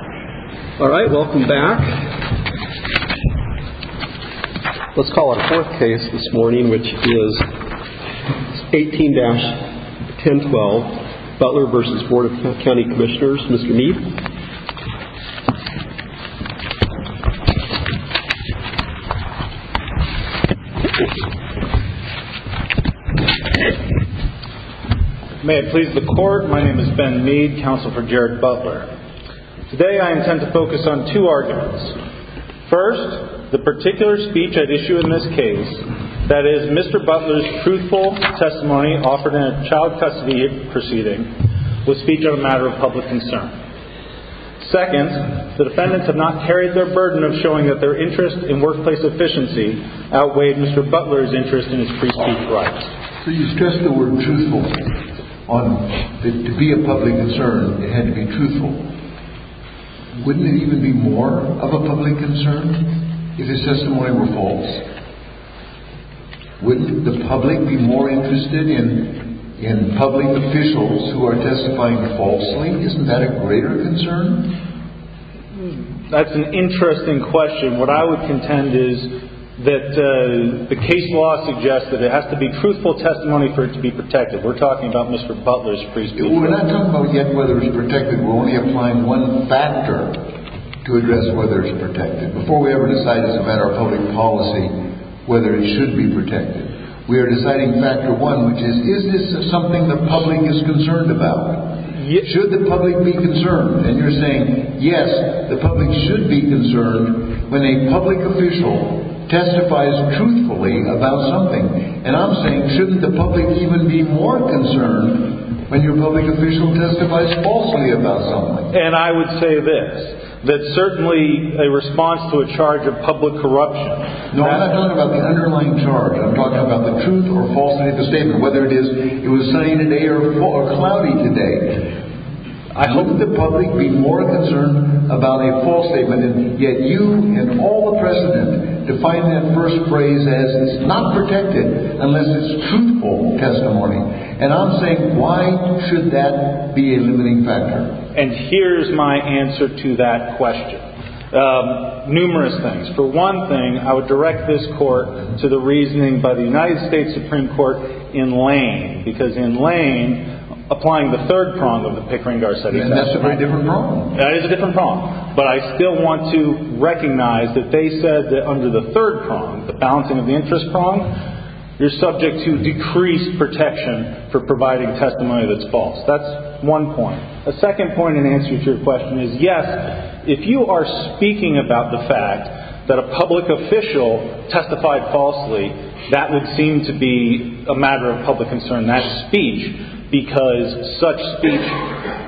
Alright, welcome back. Let's call our fourth case this morning, which is 18-1012, Butler v. Board of County Commissioners, Mr. Mead. May it please the court, my name is Ben Mead, counsel for Jared Butler. Today I intend to focus on two arguments. First, the particular speech at issue in this case, that is Mr. Butler's truthful testimony offered in a child custody proceeding, was speech of a matter of public concern. Second, the defendants have not carried their burden of showing that their interest in workplace efficiency outweighed Mr. Butler's interest in his pre-speech rights. So you stress the word truthful on, to be a public concern, it had to be truthful. Wouldn't it even be more of a public concern if his testimony were false? Wouldn't the public be more interested in public officials who are testifying falsely? Isn't that a greater concern? That's an interesting question. What I would contend is that the case law suggests that it has to be truthful testimony for it to be protected. We're talking about Mr. Butler's pre-speech rights. We're not talking about yet whether it's protected, we're only applying one factor to address whether it's protected. Before we ever decide as a matter of public policy whether it should be protected, we're deciding factor one, which is, is this something the public is concerned about? Should the public be concerned? And you're saying, yes, the public should be concerned when a public official testifies truthfully about something. And I'm saying, shouldn't the public even be more concerned when your public official testifies falsely about something? And I would say this, that certainly a response to a charge of public corruption. No, I'm not talking about the underlying charge. I'm talking about the truth or false statement, whether it is it was sunny today or cloudy today. I hope that the public be more concerned about a false statement. And yet you and all the president define that first phrase as it's not protected unless it's truthful testimony. And I'm saying, why should that be a limiting factor? And here's my answer to that question. Numerous things. For one thing, I would direct this court to the reasoning by the United States Supreme Court in Lane, because in Lane, applying the third prong of the Pickering-Gar study. And that's a very different prong. That is a different prong. But I still want to recognize that they said that under the third prong, the balancing of the interest prong, you're subject to decreased protection for providing testimony that's false. That's one point. A second point in answer to your question is, yes, if you are speaking about the fact that a public official testified falsely, that would seem to be a matter of public concern, that speech, because such speech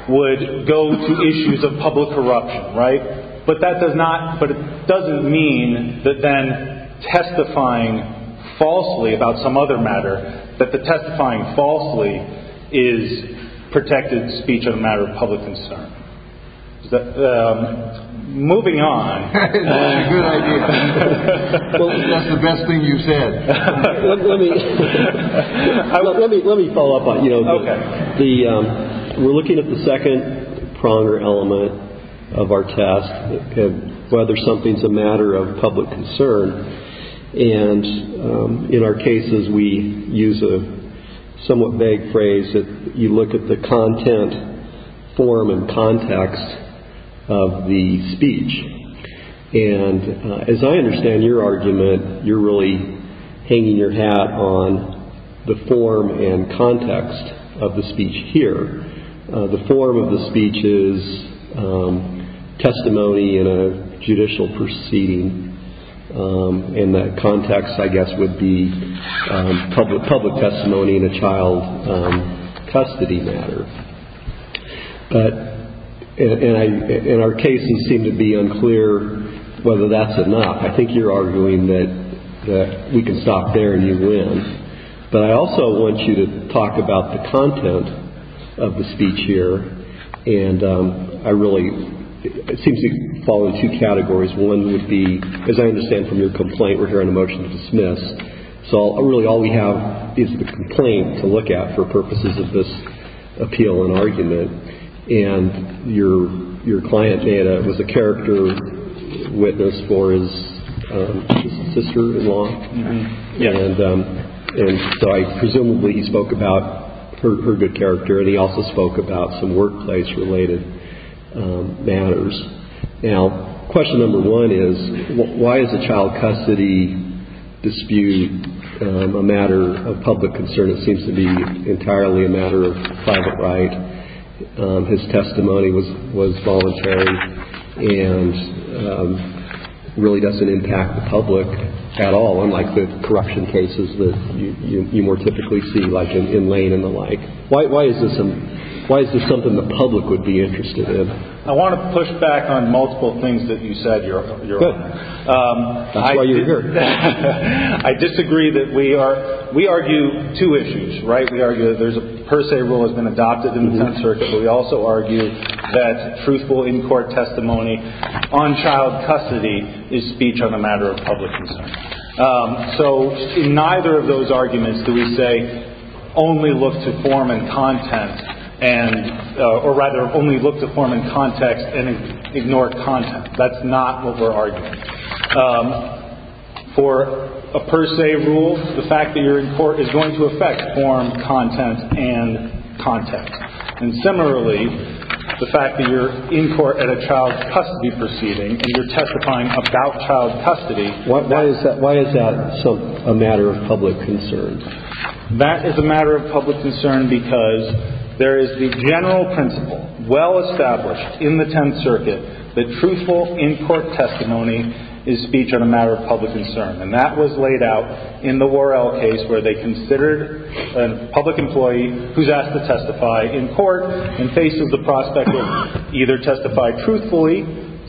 would go to issues of public corruption, right? But that does not, but it doesn't mean that then testifying falsely about some other matter, that the testifying falsely is protected speech of a matter of public concern. Moving on. Good idea. That's the best thing you've said. Let me follow up on you. Okay. We're looking at the second pronger element of our test, whether something's a matter of public concern. And in our cases, we use a somewhat vague phrase that you look at the content, form, and context of the speech. And as I understand your argument, you're really hanging your hat on the form and context of the speech here. The form of the speech is testimony in a judicial proceeding. And the context, I guess, would be public testimony in a child custody matter. But in our case, you seem to be unclear whether that's enough. I think you're arguing that we can stop there and you win. But I also want you to talk about the content of the speech here. And I really, it seems to fall into two categories. One would be, as I understand from your complaint, we're hearing a motion to dismiss. So really all we have is the complaint to look at for purposes of this appeal and argument. And your client, Dana, was a character witness for his sister-in-law. And so I presumably spoke about her good character. And he also spoke about some workplace-related matters. Now, question number one is, why is a child custody dispute a matter of public concern? It seems to be entirely a matter of private right. His testimony was voluntary and really doesn't impact the public at all, unlike the corruption cases that you more the public would be interested in. I want to push back on multiple things that you said, Your Honor. That's why you're here. I disagree that we are, we argue two issues, right? We argue that there's a per se rule has been adopted in the 10th Circuit. But we also argue that truthful in-court testimony on child custody is speech on a matter of public concern. So in neither of those arguments do we say, only look to form and content and, or rather only look to form and context and ignore content. That's not what we're arguing. For a per se rule, the fact that you're in court is going to affect form, content, and context. And similarly, the fact that you're in court at a child custody proceeding and you're testifying about child custody Why is that a matter of public concern? That is a matter of public concern because there is the general principle, well established in the 10th Circuit, that truthful in-court testimony is speech on a matter of public concern. And that was laid out in the Worrell case where they considered a public employee who's asked to testify in court and faces the prospect of either testifying truthfully,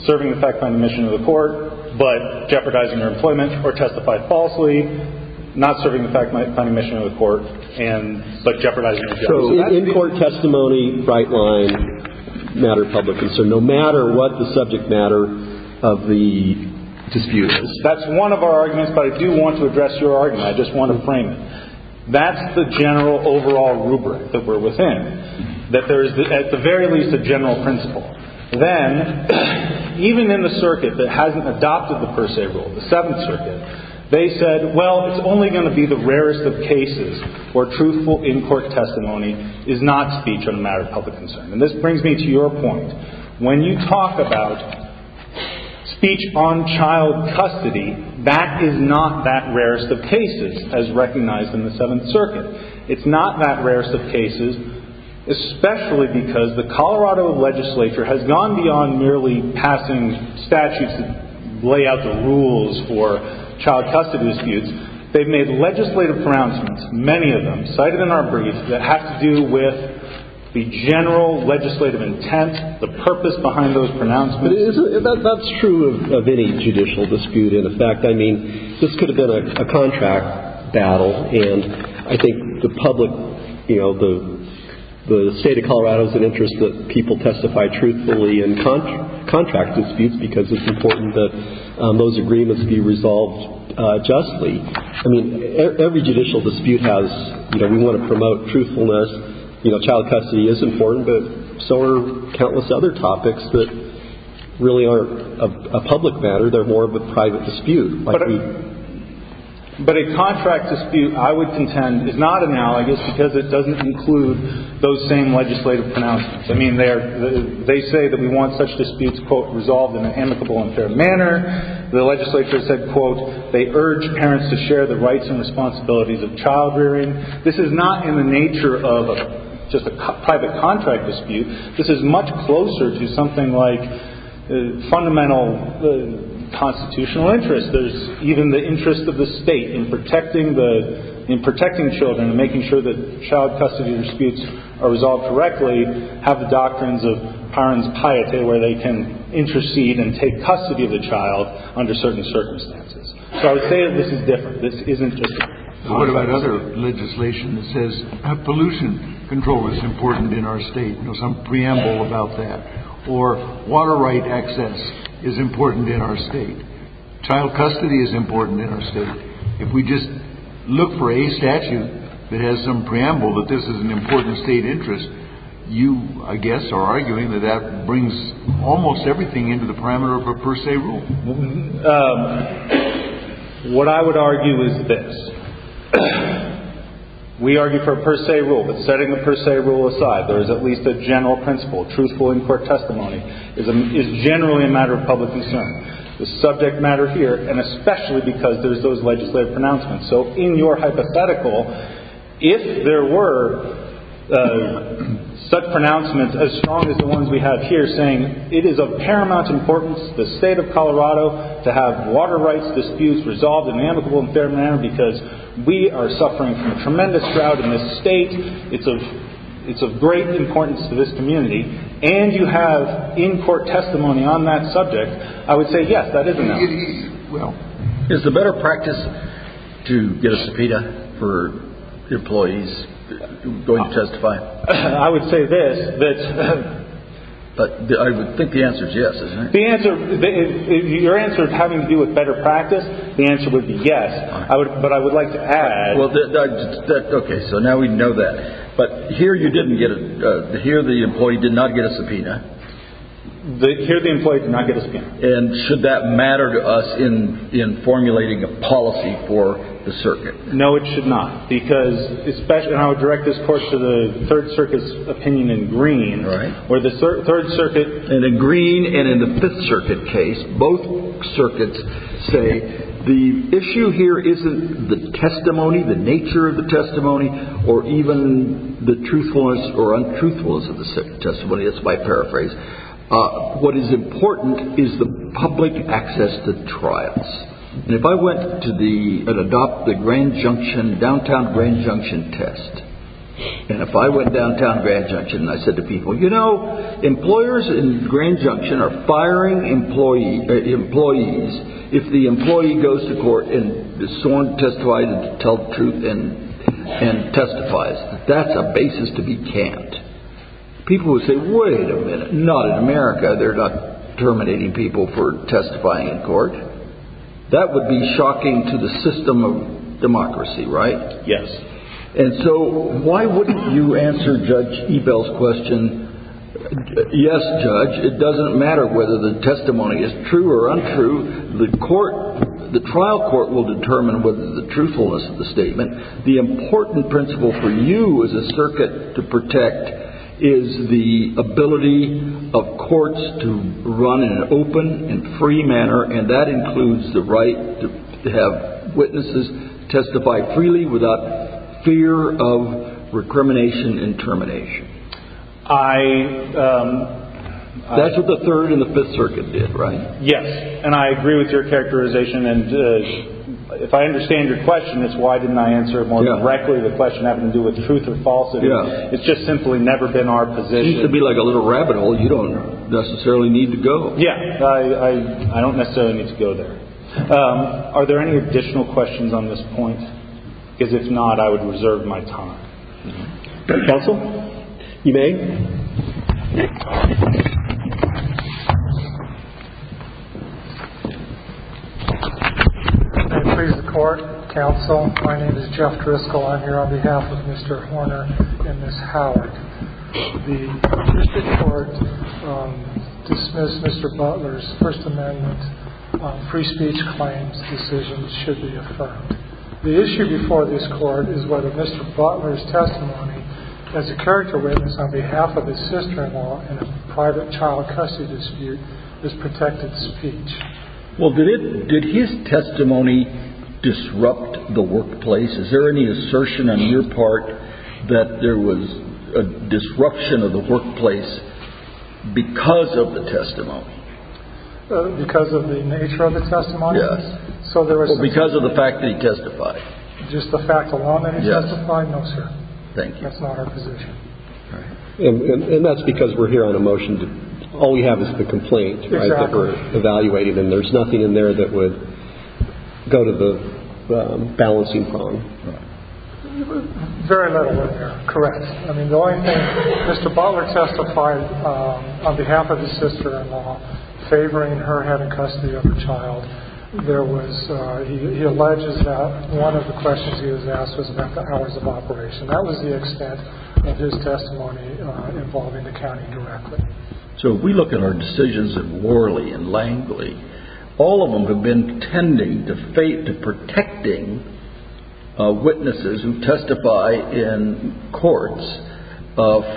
serving the fact-finding mission of the court, but jeopardizing her employment, or testifying falsely, not serving the fact-finding mission of the court, but jeopardizing her job. So in-court testimony, bright line, matter of public concern, no matter what the subject matter of the dispute is. That's one of our arguments, but I do want to address your argument. I just want to frame it. That's the general overall rubric that we're within, that there's at the very least a general principle. Then, even in the circuit that hasn't adopted the per se rule, the 7th Circuit, they said, well, it's only going to be the rarest of cases where truthful in-court testimony is not speech on a matter of public concern. And this brings me to your point. When you talk about speech on child custody, that is not that rarest of cases as recognized in the 7th Circuit. It's not that rarest of cases. The Colorado legislature has gone beyond merely passing statutes that lay out the rules for child custody disputes. They've made legislative pronouncements, many of them, cited in our briefs, that have to do with the general legislative intent, the purpose behind those pronouncements. That's true of any judicial dispute, in effect. I mean, this could have been a contract battle. And I think the public, you know, the State of Colorado is in interest that people testify truthfully in contract disputes because it's important that those agreements be resolved justly. I mean, every judicial dispute has, you know, we want to promote truthfulness. You know, child custody is important, but so are countless other topics that really aren't a public matter. They're more of a private dispute. But a contract dispute, I would contend, is not analogous because it doesn't include those same legislative pronouncements. I mean, they say that we want such disputes, quote, resolved in an amicable and fair manner. The legislature said, quote, they urge parents to share the rights and responsibilities of child-rearing. This is not in the nature of just a private contract dispute. This is much closer to something like the fundamental constitutional interest. There's even the interest of the state in protecting the, in protecting children and making sure that child custody disputes are resolved correctly, have the doctrines of parents' piety, where they can intercede and take custody of the child under certain circumstances. So I would say that this is different. This isn't just a private dispute. But what about other legislation that says pollution control is important in our state? You know, some preamble about that. Or water right access is important in our state. Child custody is important in our state. If we just look for a statute that has some preamble that this is an important state interest, you, I guess, are arguing that that brings almost everything into the parameter of a per se rule. What I would argue is this. We argue for a per se rule, but setting a per se rule aside, there is at least a general principle. Truthful in court testimony is generally a matter of public concern. The subject matter here, and especially because there's those legislative pronouncements. So in your hypothetical, if there were such pronouncements as strong as the ones we have here saying it is of paramount importance to the state of Colorado to have water rights disputes resolved in an amicable and fair manner because we are suffering from tremendous drought in this state, it's of great importance to this community, and you have in court testimony on that subject, I would say yes, that is enough. Is the better practice to get a subpoena for employees going to testify? I would say this. I would think the answer is yes. Your answer is having to do with better practice. The answer would be yes. But I would like to add. Okay, so now we know that. But here the employee did not get a subpoena. Here the employee did not get a subpoena. And should that matter to us in formulating a policy for the circuit? No, it should not. Because especially, and I would direct this course to the Third Circuit's opinion in Green, where the Third Circuit and in Green and in the Fifth Circuit case, both circuits say the issue here isn't the testimony, the nature of the testimony, or even the truthfulness or untruthfulness of the testimony, that's my paraphrase. What is important is the public access to trials. And if I went to the, and adopt the Grand Junction, downtown Grand Junction test, and if I went downtown Grand Junction and I said to people, you know, employers in Grand Junction are firing employees if the employee goes to court and is sworn to testify to tell the truth and testifies. That's a basis to be camped. People would say, wait a minute, not in America, they're not terminating people for testifying in court. That would be shocking to the system of democracy, right? Yes. And so why wouldn't you answer Judge Ebell's question, yes, Judge, it doesn't matter whether the testimony is true or untrue, the court, the trial court will determine whether the truthfulness of the statement. The important principle for you as a circuit to protect is the ability of courts to run in an open and free manner, and that includes the right to have witnesses testify freely without fear of recrimination and termination. That's what the Third and the Fifth Circuit did, right? Yes. And I agree with your characterization. And if I understand your question, it's why didn't I answer it more directly to the question having to do with truth or falsehood. It's just simply never been our position. Seems to be like a little rabbit hole you don't necessarily need to go. Yeah. I don't necessarily need to go there. Are there any additional questions on this point? Because if not, I would reserve my time. Counsel, you may. I please the court, counsel. My name is Jeff Driscoll. I'm here on behalf of Mr. Horner and Ms. Howard. The district court dismissed Mr. Butler's First Amendment on free speech claims decisions should be affirmed. The issue before this court is whether Mr. Butler's testimony as a character witness on behalf of his sister-in-law in a private child custody dispute is protected speech. Well, did his testimony disrupt the workplace? Is there any assertion on your part that there was a disruption of the workplace because of the testimony? Because of the nature of the testimony? Yes. So there was... Because of the fact that he testified. Just the fact of the fact that he testified? Yes. No, sir. Thank you. That's not our position. And that's because we're here on a motion. All we have is the complaint. Exactly. That we're evaluating and there's nothing in there that would go to the balancing palm. Very little in there. Correct. I mean, the only thing, Mr. Butler testified on behalf of his sister-in-law favoring her having custody of a child. There was, he alleges that one of the questions he was asked was about the hours of operation. That was the extent of his testimony involving the county directly. So if we look at our decisions at Worley and Langley, all of them have been tending to and protecting witnesses who testify in courts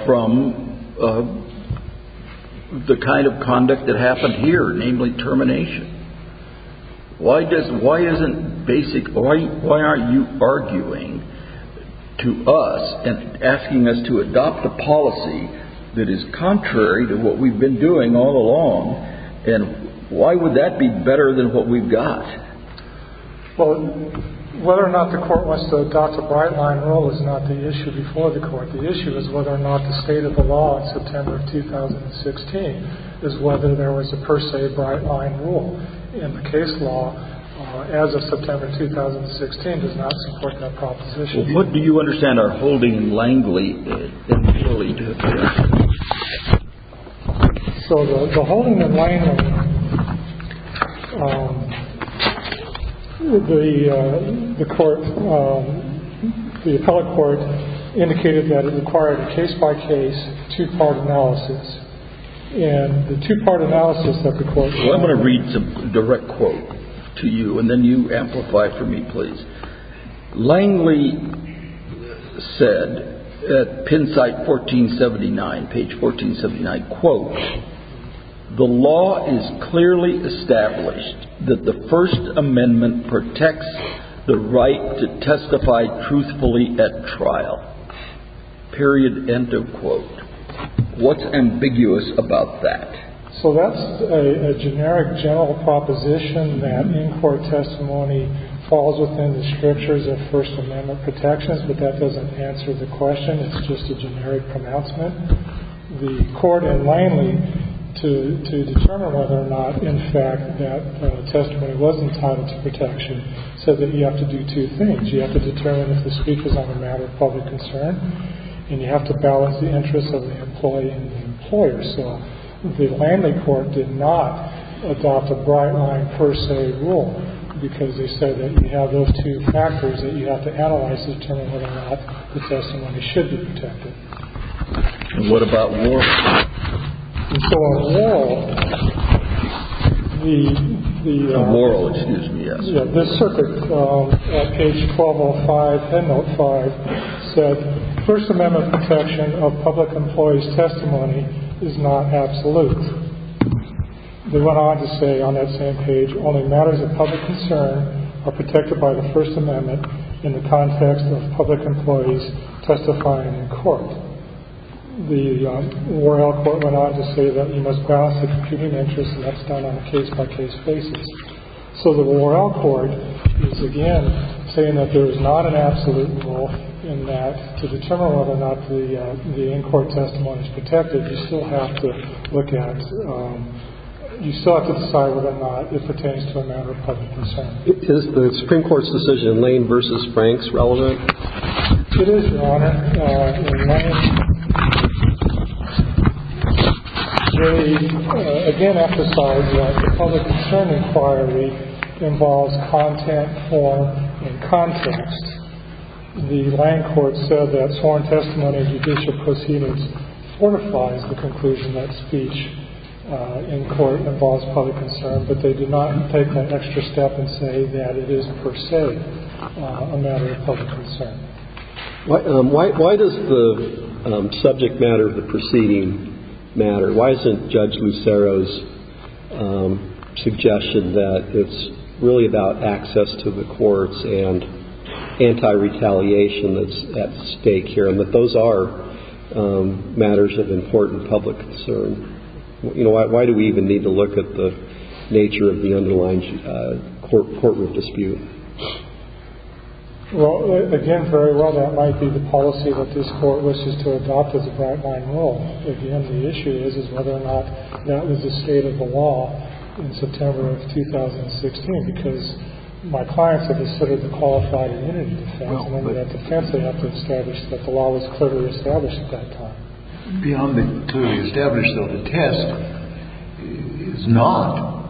from the kind of conduct that happened here, namely termination. Why doesn't, why isn't basic, why aren't you arguing to us and asking us to adopt a policy that is contrary to what we've been doing all along? And why would that be better than what we've got? Well, whether or not the court wants to adopt a bright line rule is not the issue before the court. The issue is whether or not the state of the law in September of 2016 is whether there was a per se bright line rule. And the case law as of September 2016 does not support that proposition. Well, what do you understand are holding Langley and Worley to account? So the holding of Langley, the court, the appellate court indicated that it required case by case, two part analysis. And the two part analysis that the court Well, I'm going to read some direct quote to you and then you amplify for me, please. Langley said at Penn site 1479, page 1479, quote, the law is clearly established that the First Amendment protects the right to testify truthfully at trial, period, end of quote. What's ambiguous about that? So that's a generic general proposition that in-court testimony falls within the scriptures of First Amendment protections, but that doesn't answer the question. It's just a generic pronouncement. The court in Langley, to determine whether or not, in fact, that testimony was entitled to protection, said that you have to do two things. You have to determine if the speech was on the matter of public concern, and you have to balance the interests of the employee and the employer. So the Langley court did not adopt a bright line per se rule, because they said that you have those two factors that you have to analyze to determine whether or not the testimony should be protected. And what about Worley? So on Worley, the On Worley, excuse me, yes. This circuit, page 1205, end note five, said First Amendment protection of public employees' testimony is not absolute. They went on to say on that same page, only matters of public concern are protected by the First Amendment in the context of public employees testifying in court. The Worley court went on to say that you must balance the competing interests, and that's done on a case-by-case basis. So the Morrell court is, again, saying that there is not an absolute rule in that to determine whether or not the in-court testimony is protected, you still have to look at you still have to decide whether or not it pertains to a matter of public concern. Is the Supreme Court's decision in Lane v. Franks relevant? It is, Your Honor. They, again, emphasize that the public concern inquiry involves content, form, and context. The Lane court said that sworn testimony in judicial proceedings fortifies the conclusion that speech in court involves public concern, but they did not take that extra step and say that it is per se a matter of public concern. Why does the subject matter of the proceeding matter? Why isn't Judge Lucero's suggestion that it's really about access to the courts and anti-retaliation that's at stake here, and that those are matters of important public concern? Why do we even need to look at the nature of the underlying courtroom dispute? Well, again, very well. That might be the policy that this court wishes to adopt as a bright-line rule. Again, the issue is whether or not that was the state of the law in September of 2016, because my clients have considered the qualified immunity defense, and under that defense, they have to establish that the law was clearly established at that time. Beyond the clearly established, though, the test is not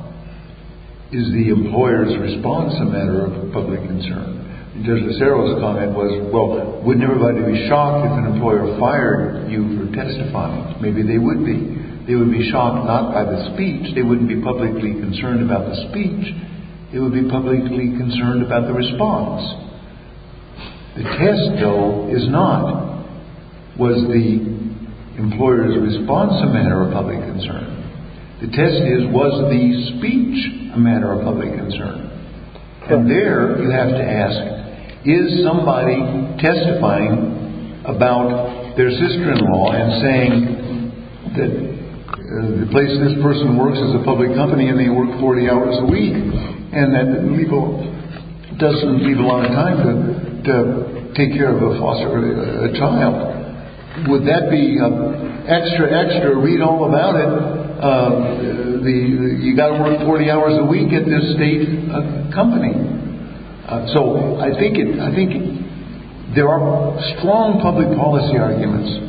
is the employer's response a matter of public concern. Judge Lucero's comment was, well, wouldn't everybody be shocked if an employer fired you for testifying? Maybe they would be. They would be shocked not by the speech. They wouldn't be publicly concerned about the speech. They would be publicly concerned about the response. The test, though, is not was the employer's response a matter of public concern. The test is was the speech a matter of public concern? And there, you have to ask, is somebody testifying about their sister-in-law and saying that the place this person works is a public company and they work 40 hours a week, and that doesn't leave a lot of time to take care of a foster child? Would that be extra, extra read-all about it? You've got to work 40 hours a week at this state company. So I think there are strong public policy arguments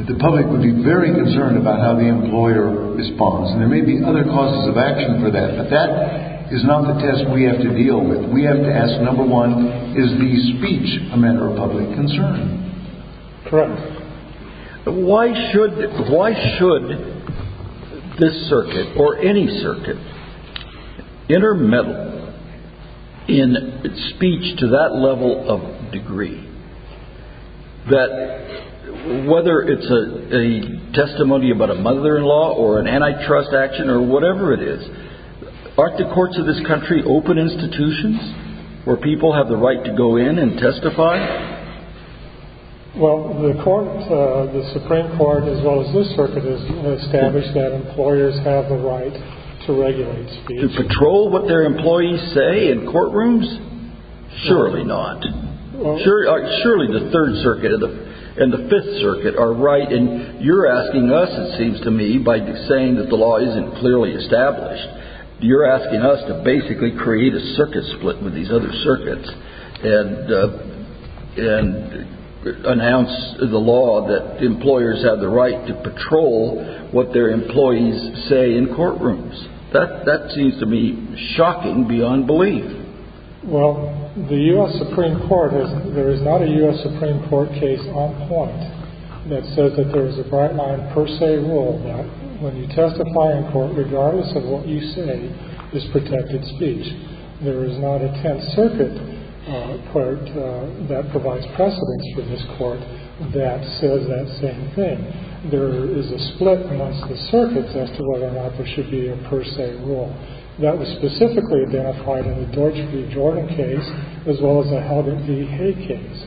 that the public would be very concerned about how the employer responds, and there may be other causes of action for that, but that is not the test we have to deal with. We have to ask, number one, is the speech a matter of public concern? Correct. Why should this circuit, or any circuit, intermeddle in speech to that level of degree, that whether it's a testimony about a mother-in-law or an antitrust action or whatever it is, aren't the courts of this country open institutions where people have the right to go in and testify? Well, the Supreme Court, as well as this circuit, has established that employers have the right to regulate speech. To patrol what their employees say in courtrooms? Surely not. Surely the Third Circuit and the Fifth Circuit are right, and you're asking us, it seems to me, by saying that the law isn't clearly established. You're asking us to basically create a circuit split with these other circuits and announce the law that employers have the right to patrol what their employees say in courtrooms. That seems to me shocking beyond belief. Well, the U.S. Supreme Court has, there is not a U.S. Supreme Court case on point that says that there is a bright-line per se rule that when you testify in court, regardless of what you say, is protected speech. There is not a Tenth Circuit court that provides precedence for this court that says that same thing. There is a split amongst the circuits as to whether or not there should be a per se rule. That was specifically identified in the Deutsch v. Jordan case, as well as the Helbing v. Hay case.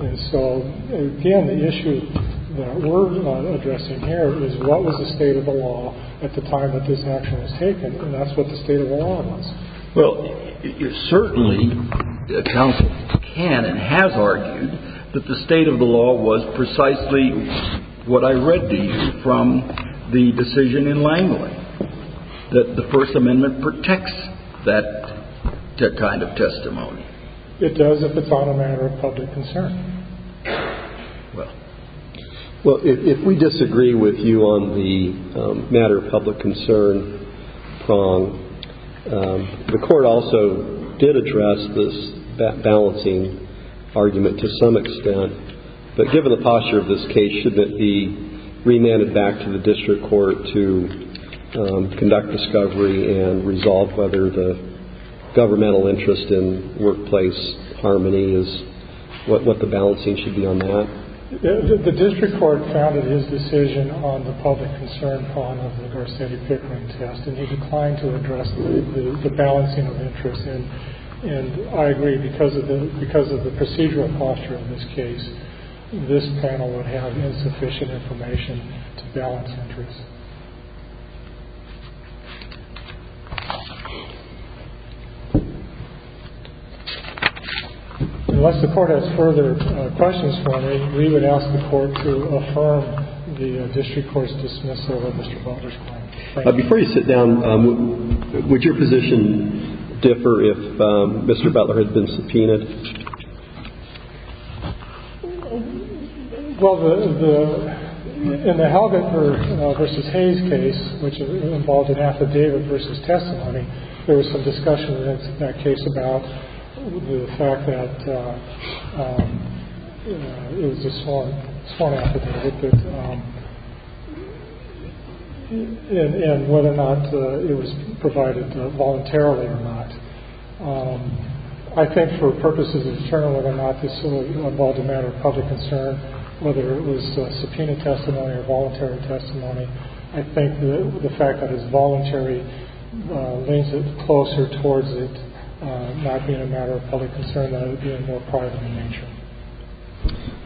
And so, again, the issue that we're addressing here is what was the state of the law at the time that this action was taken, and that's what the state of the law was. Well, certainly, counsel can and has argued that the state of the law was precisely what I read to you from the decision in Langley, that the First Amendment protects that kind of testimony. It does if it's on a matter of public concern. Well, if we disagree with you on the matter of public concern prong, the Court also did address this balancing argument to some extent, but given the posture of this case, shouldn't it be remanded back to the district court to conduct discovery and resolve whether the governmental interest in workplace harmony is what the balancing should be on that? The district court founded his decision on the public concern prong of the Garcetti Pickering test, and he declined to address the balancing of interest. And I agree, because of the procedural posture of this case, this panel would have insufficient information to balance interests. Unless the Court has further questions for me, we would ask the Court to affirm the district court's dismissal of Mr. Butler's claim. Thank you. Before you sit down, would your position differ if Mr. Butler had been subpoenaed? Well, in the Halden versus Hayes case, which involved an affidavit versus testimony, there was some discussion in that case about the fact that it was a sworn affidavit and whether or not it was provided voluntarily or not. I think for purposes of the journal, whether or not this involved a matter of public concern, whether it was subpoena testimony or voluntary testimony, I think the fact that it's voluntary leads it closer towards it not being a matter of public concern than it being more private in nature.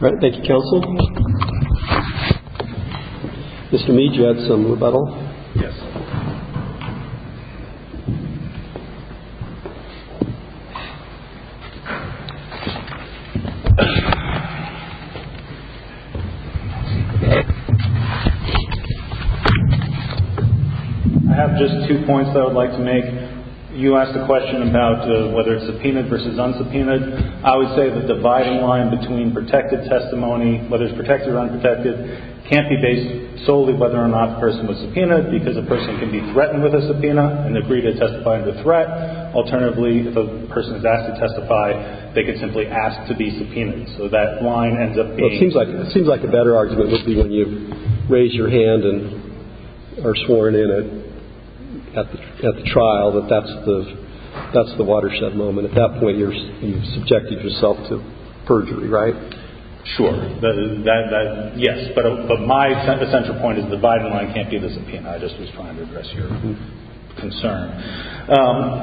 All right. Thank you, counsel. Mr. Mead, you had some rebuttal? Yes. I have just two points that I would like to make. You asked a question about whether it's subpoenaed versus unsubpoenaed. I would say the dividing line between protected testimony, whether it's protected or unprotected, can't be based solely whether or not the person was subpoenaed because a person can be threatened with a subpoena and agree to testify in the threat. Alternatively, if a person is asked to testify, they can simply ask to be subpoenaed. So that line ends up being... Well, it seems like a better argument would be when you raise your hand and are sworn in at the trial, that that's the watershed moment. At that point, you've subjected yourself to perjury, right? Sure. Yes. But my central point is the dividing line can't be the subpoena. I just was trying to address your concern.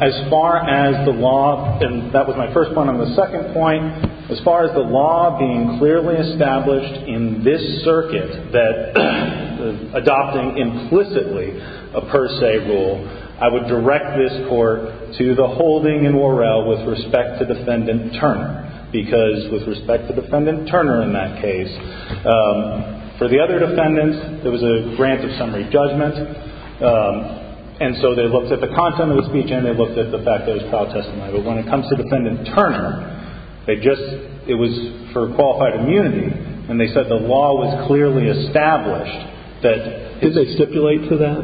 As far as the law... And that was my first point. On the second point, as far as the law being clearly established in this circuit that adopting implicitly a per se rule, I would direct this court to the holding in Worrell with respect to Defendant Turner, because with respect to Defendant Turner in that case, for the other defendants, there was a grant of summary judgment, and so they looked at the content of the speech and they looked at the fact that it was trial testimony. But when it comes to Defendant Turner, it was for qualified immunity, and they said the law was clearly established that... Did they stipulate to that?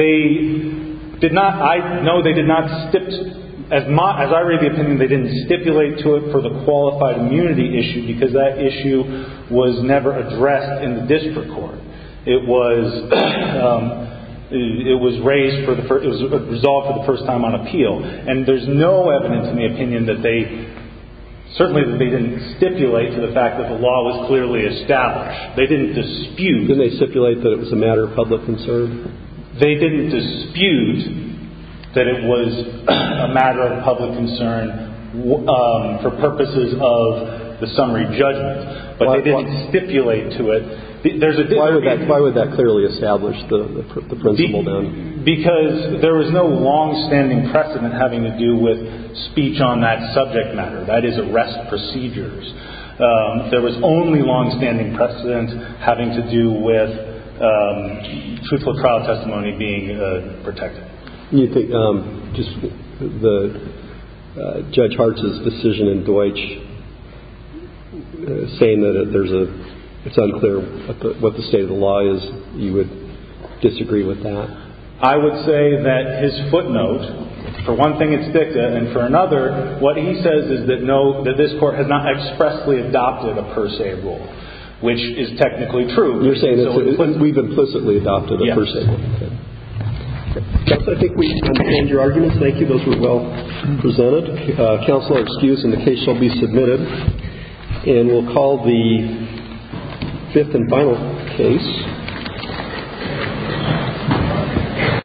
They did not... No, they did not stip... As I read the opinion, they didn't stipulate to it for the qualified immunity issue, because that issue was never addressed in the district court. It was raised for... It was resolved for the first time on appeal, and there's no evidence in the opinion that they... Certainly, they didn't stipulate to the fact that the law was clearly established. They didn't dispute... Didn't they stipulate that it was a matter of public concern? They didn't dispute that it was a matter of public concern for purposes of the summary judgment, but they didn't stipulate to it. Why would that clearly establish the principle, then? Because there was no longstanding precedent having to do with speech on that subject matter, that is, arrest procedures. There was only longstanding precedent having to do with truthful trial testimony being protected. Do you think Judge Hartz's decision in Deutsch, saying that it's unclear what the state of the law is, you would disagree with that? I would say that his footnote, for one thing, it's dicta, and for another, what he says is that this court has not expressly adopted a per se rule, which is technically true. You're saying that we've implicitly adopted a per se rule. Yes. Judge, I think we understand your arguments. Thank you. Those were well presented. Counsel, excuse, and the case shall be submitted, and we'll call the fifth and final case.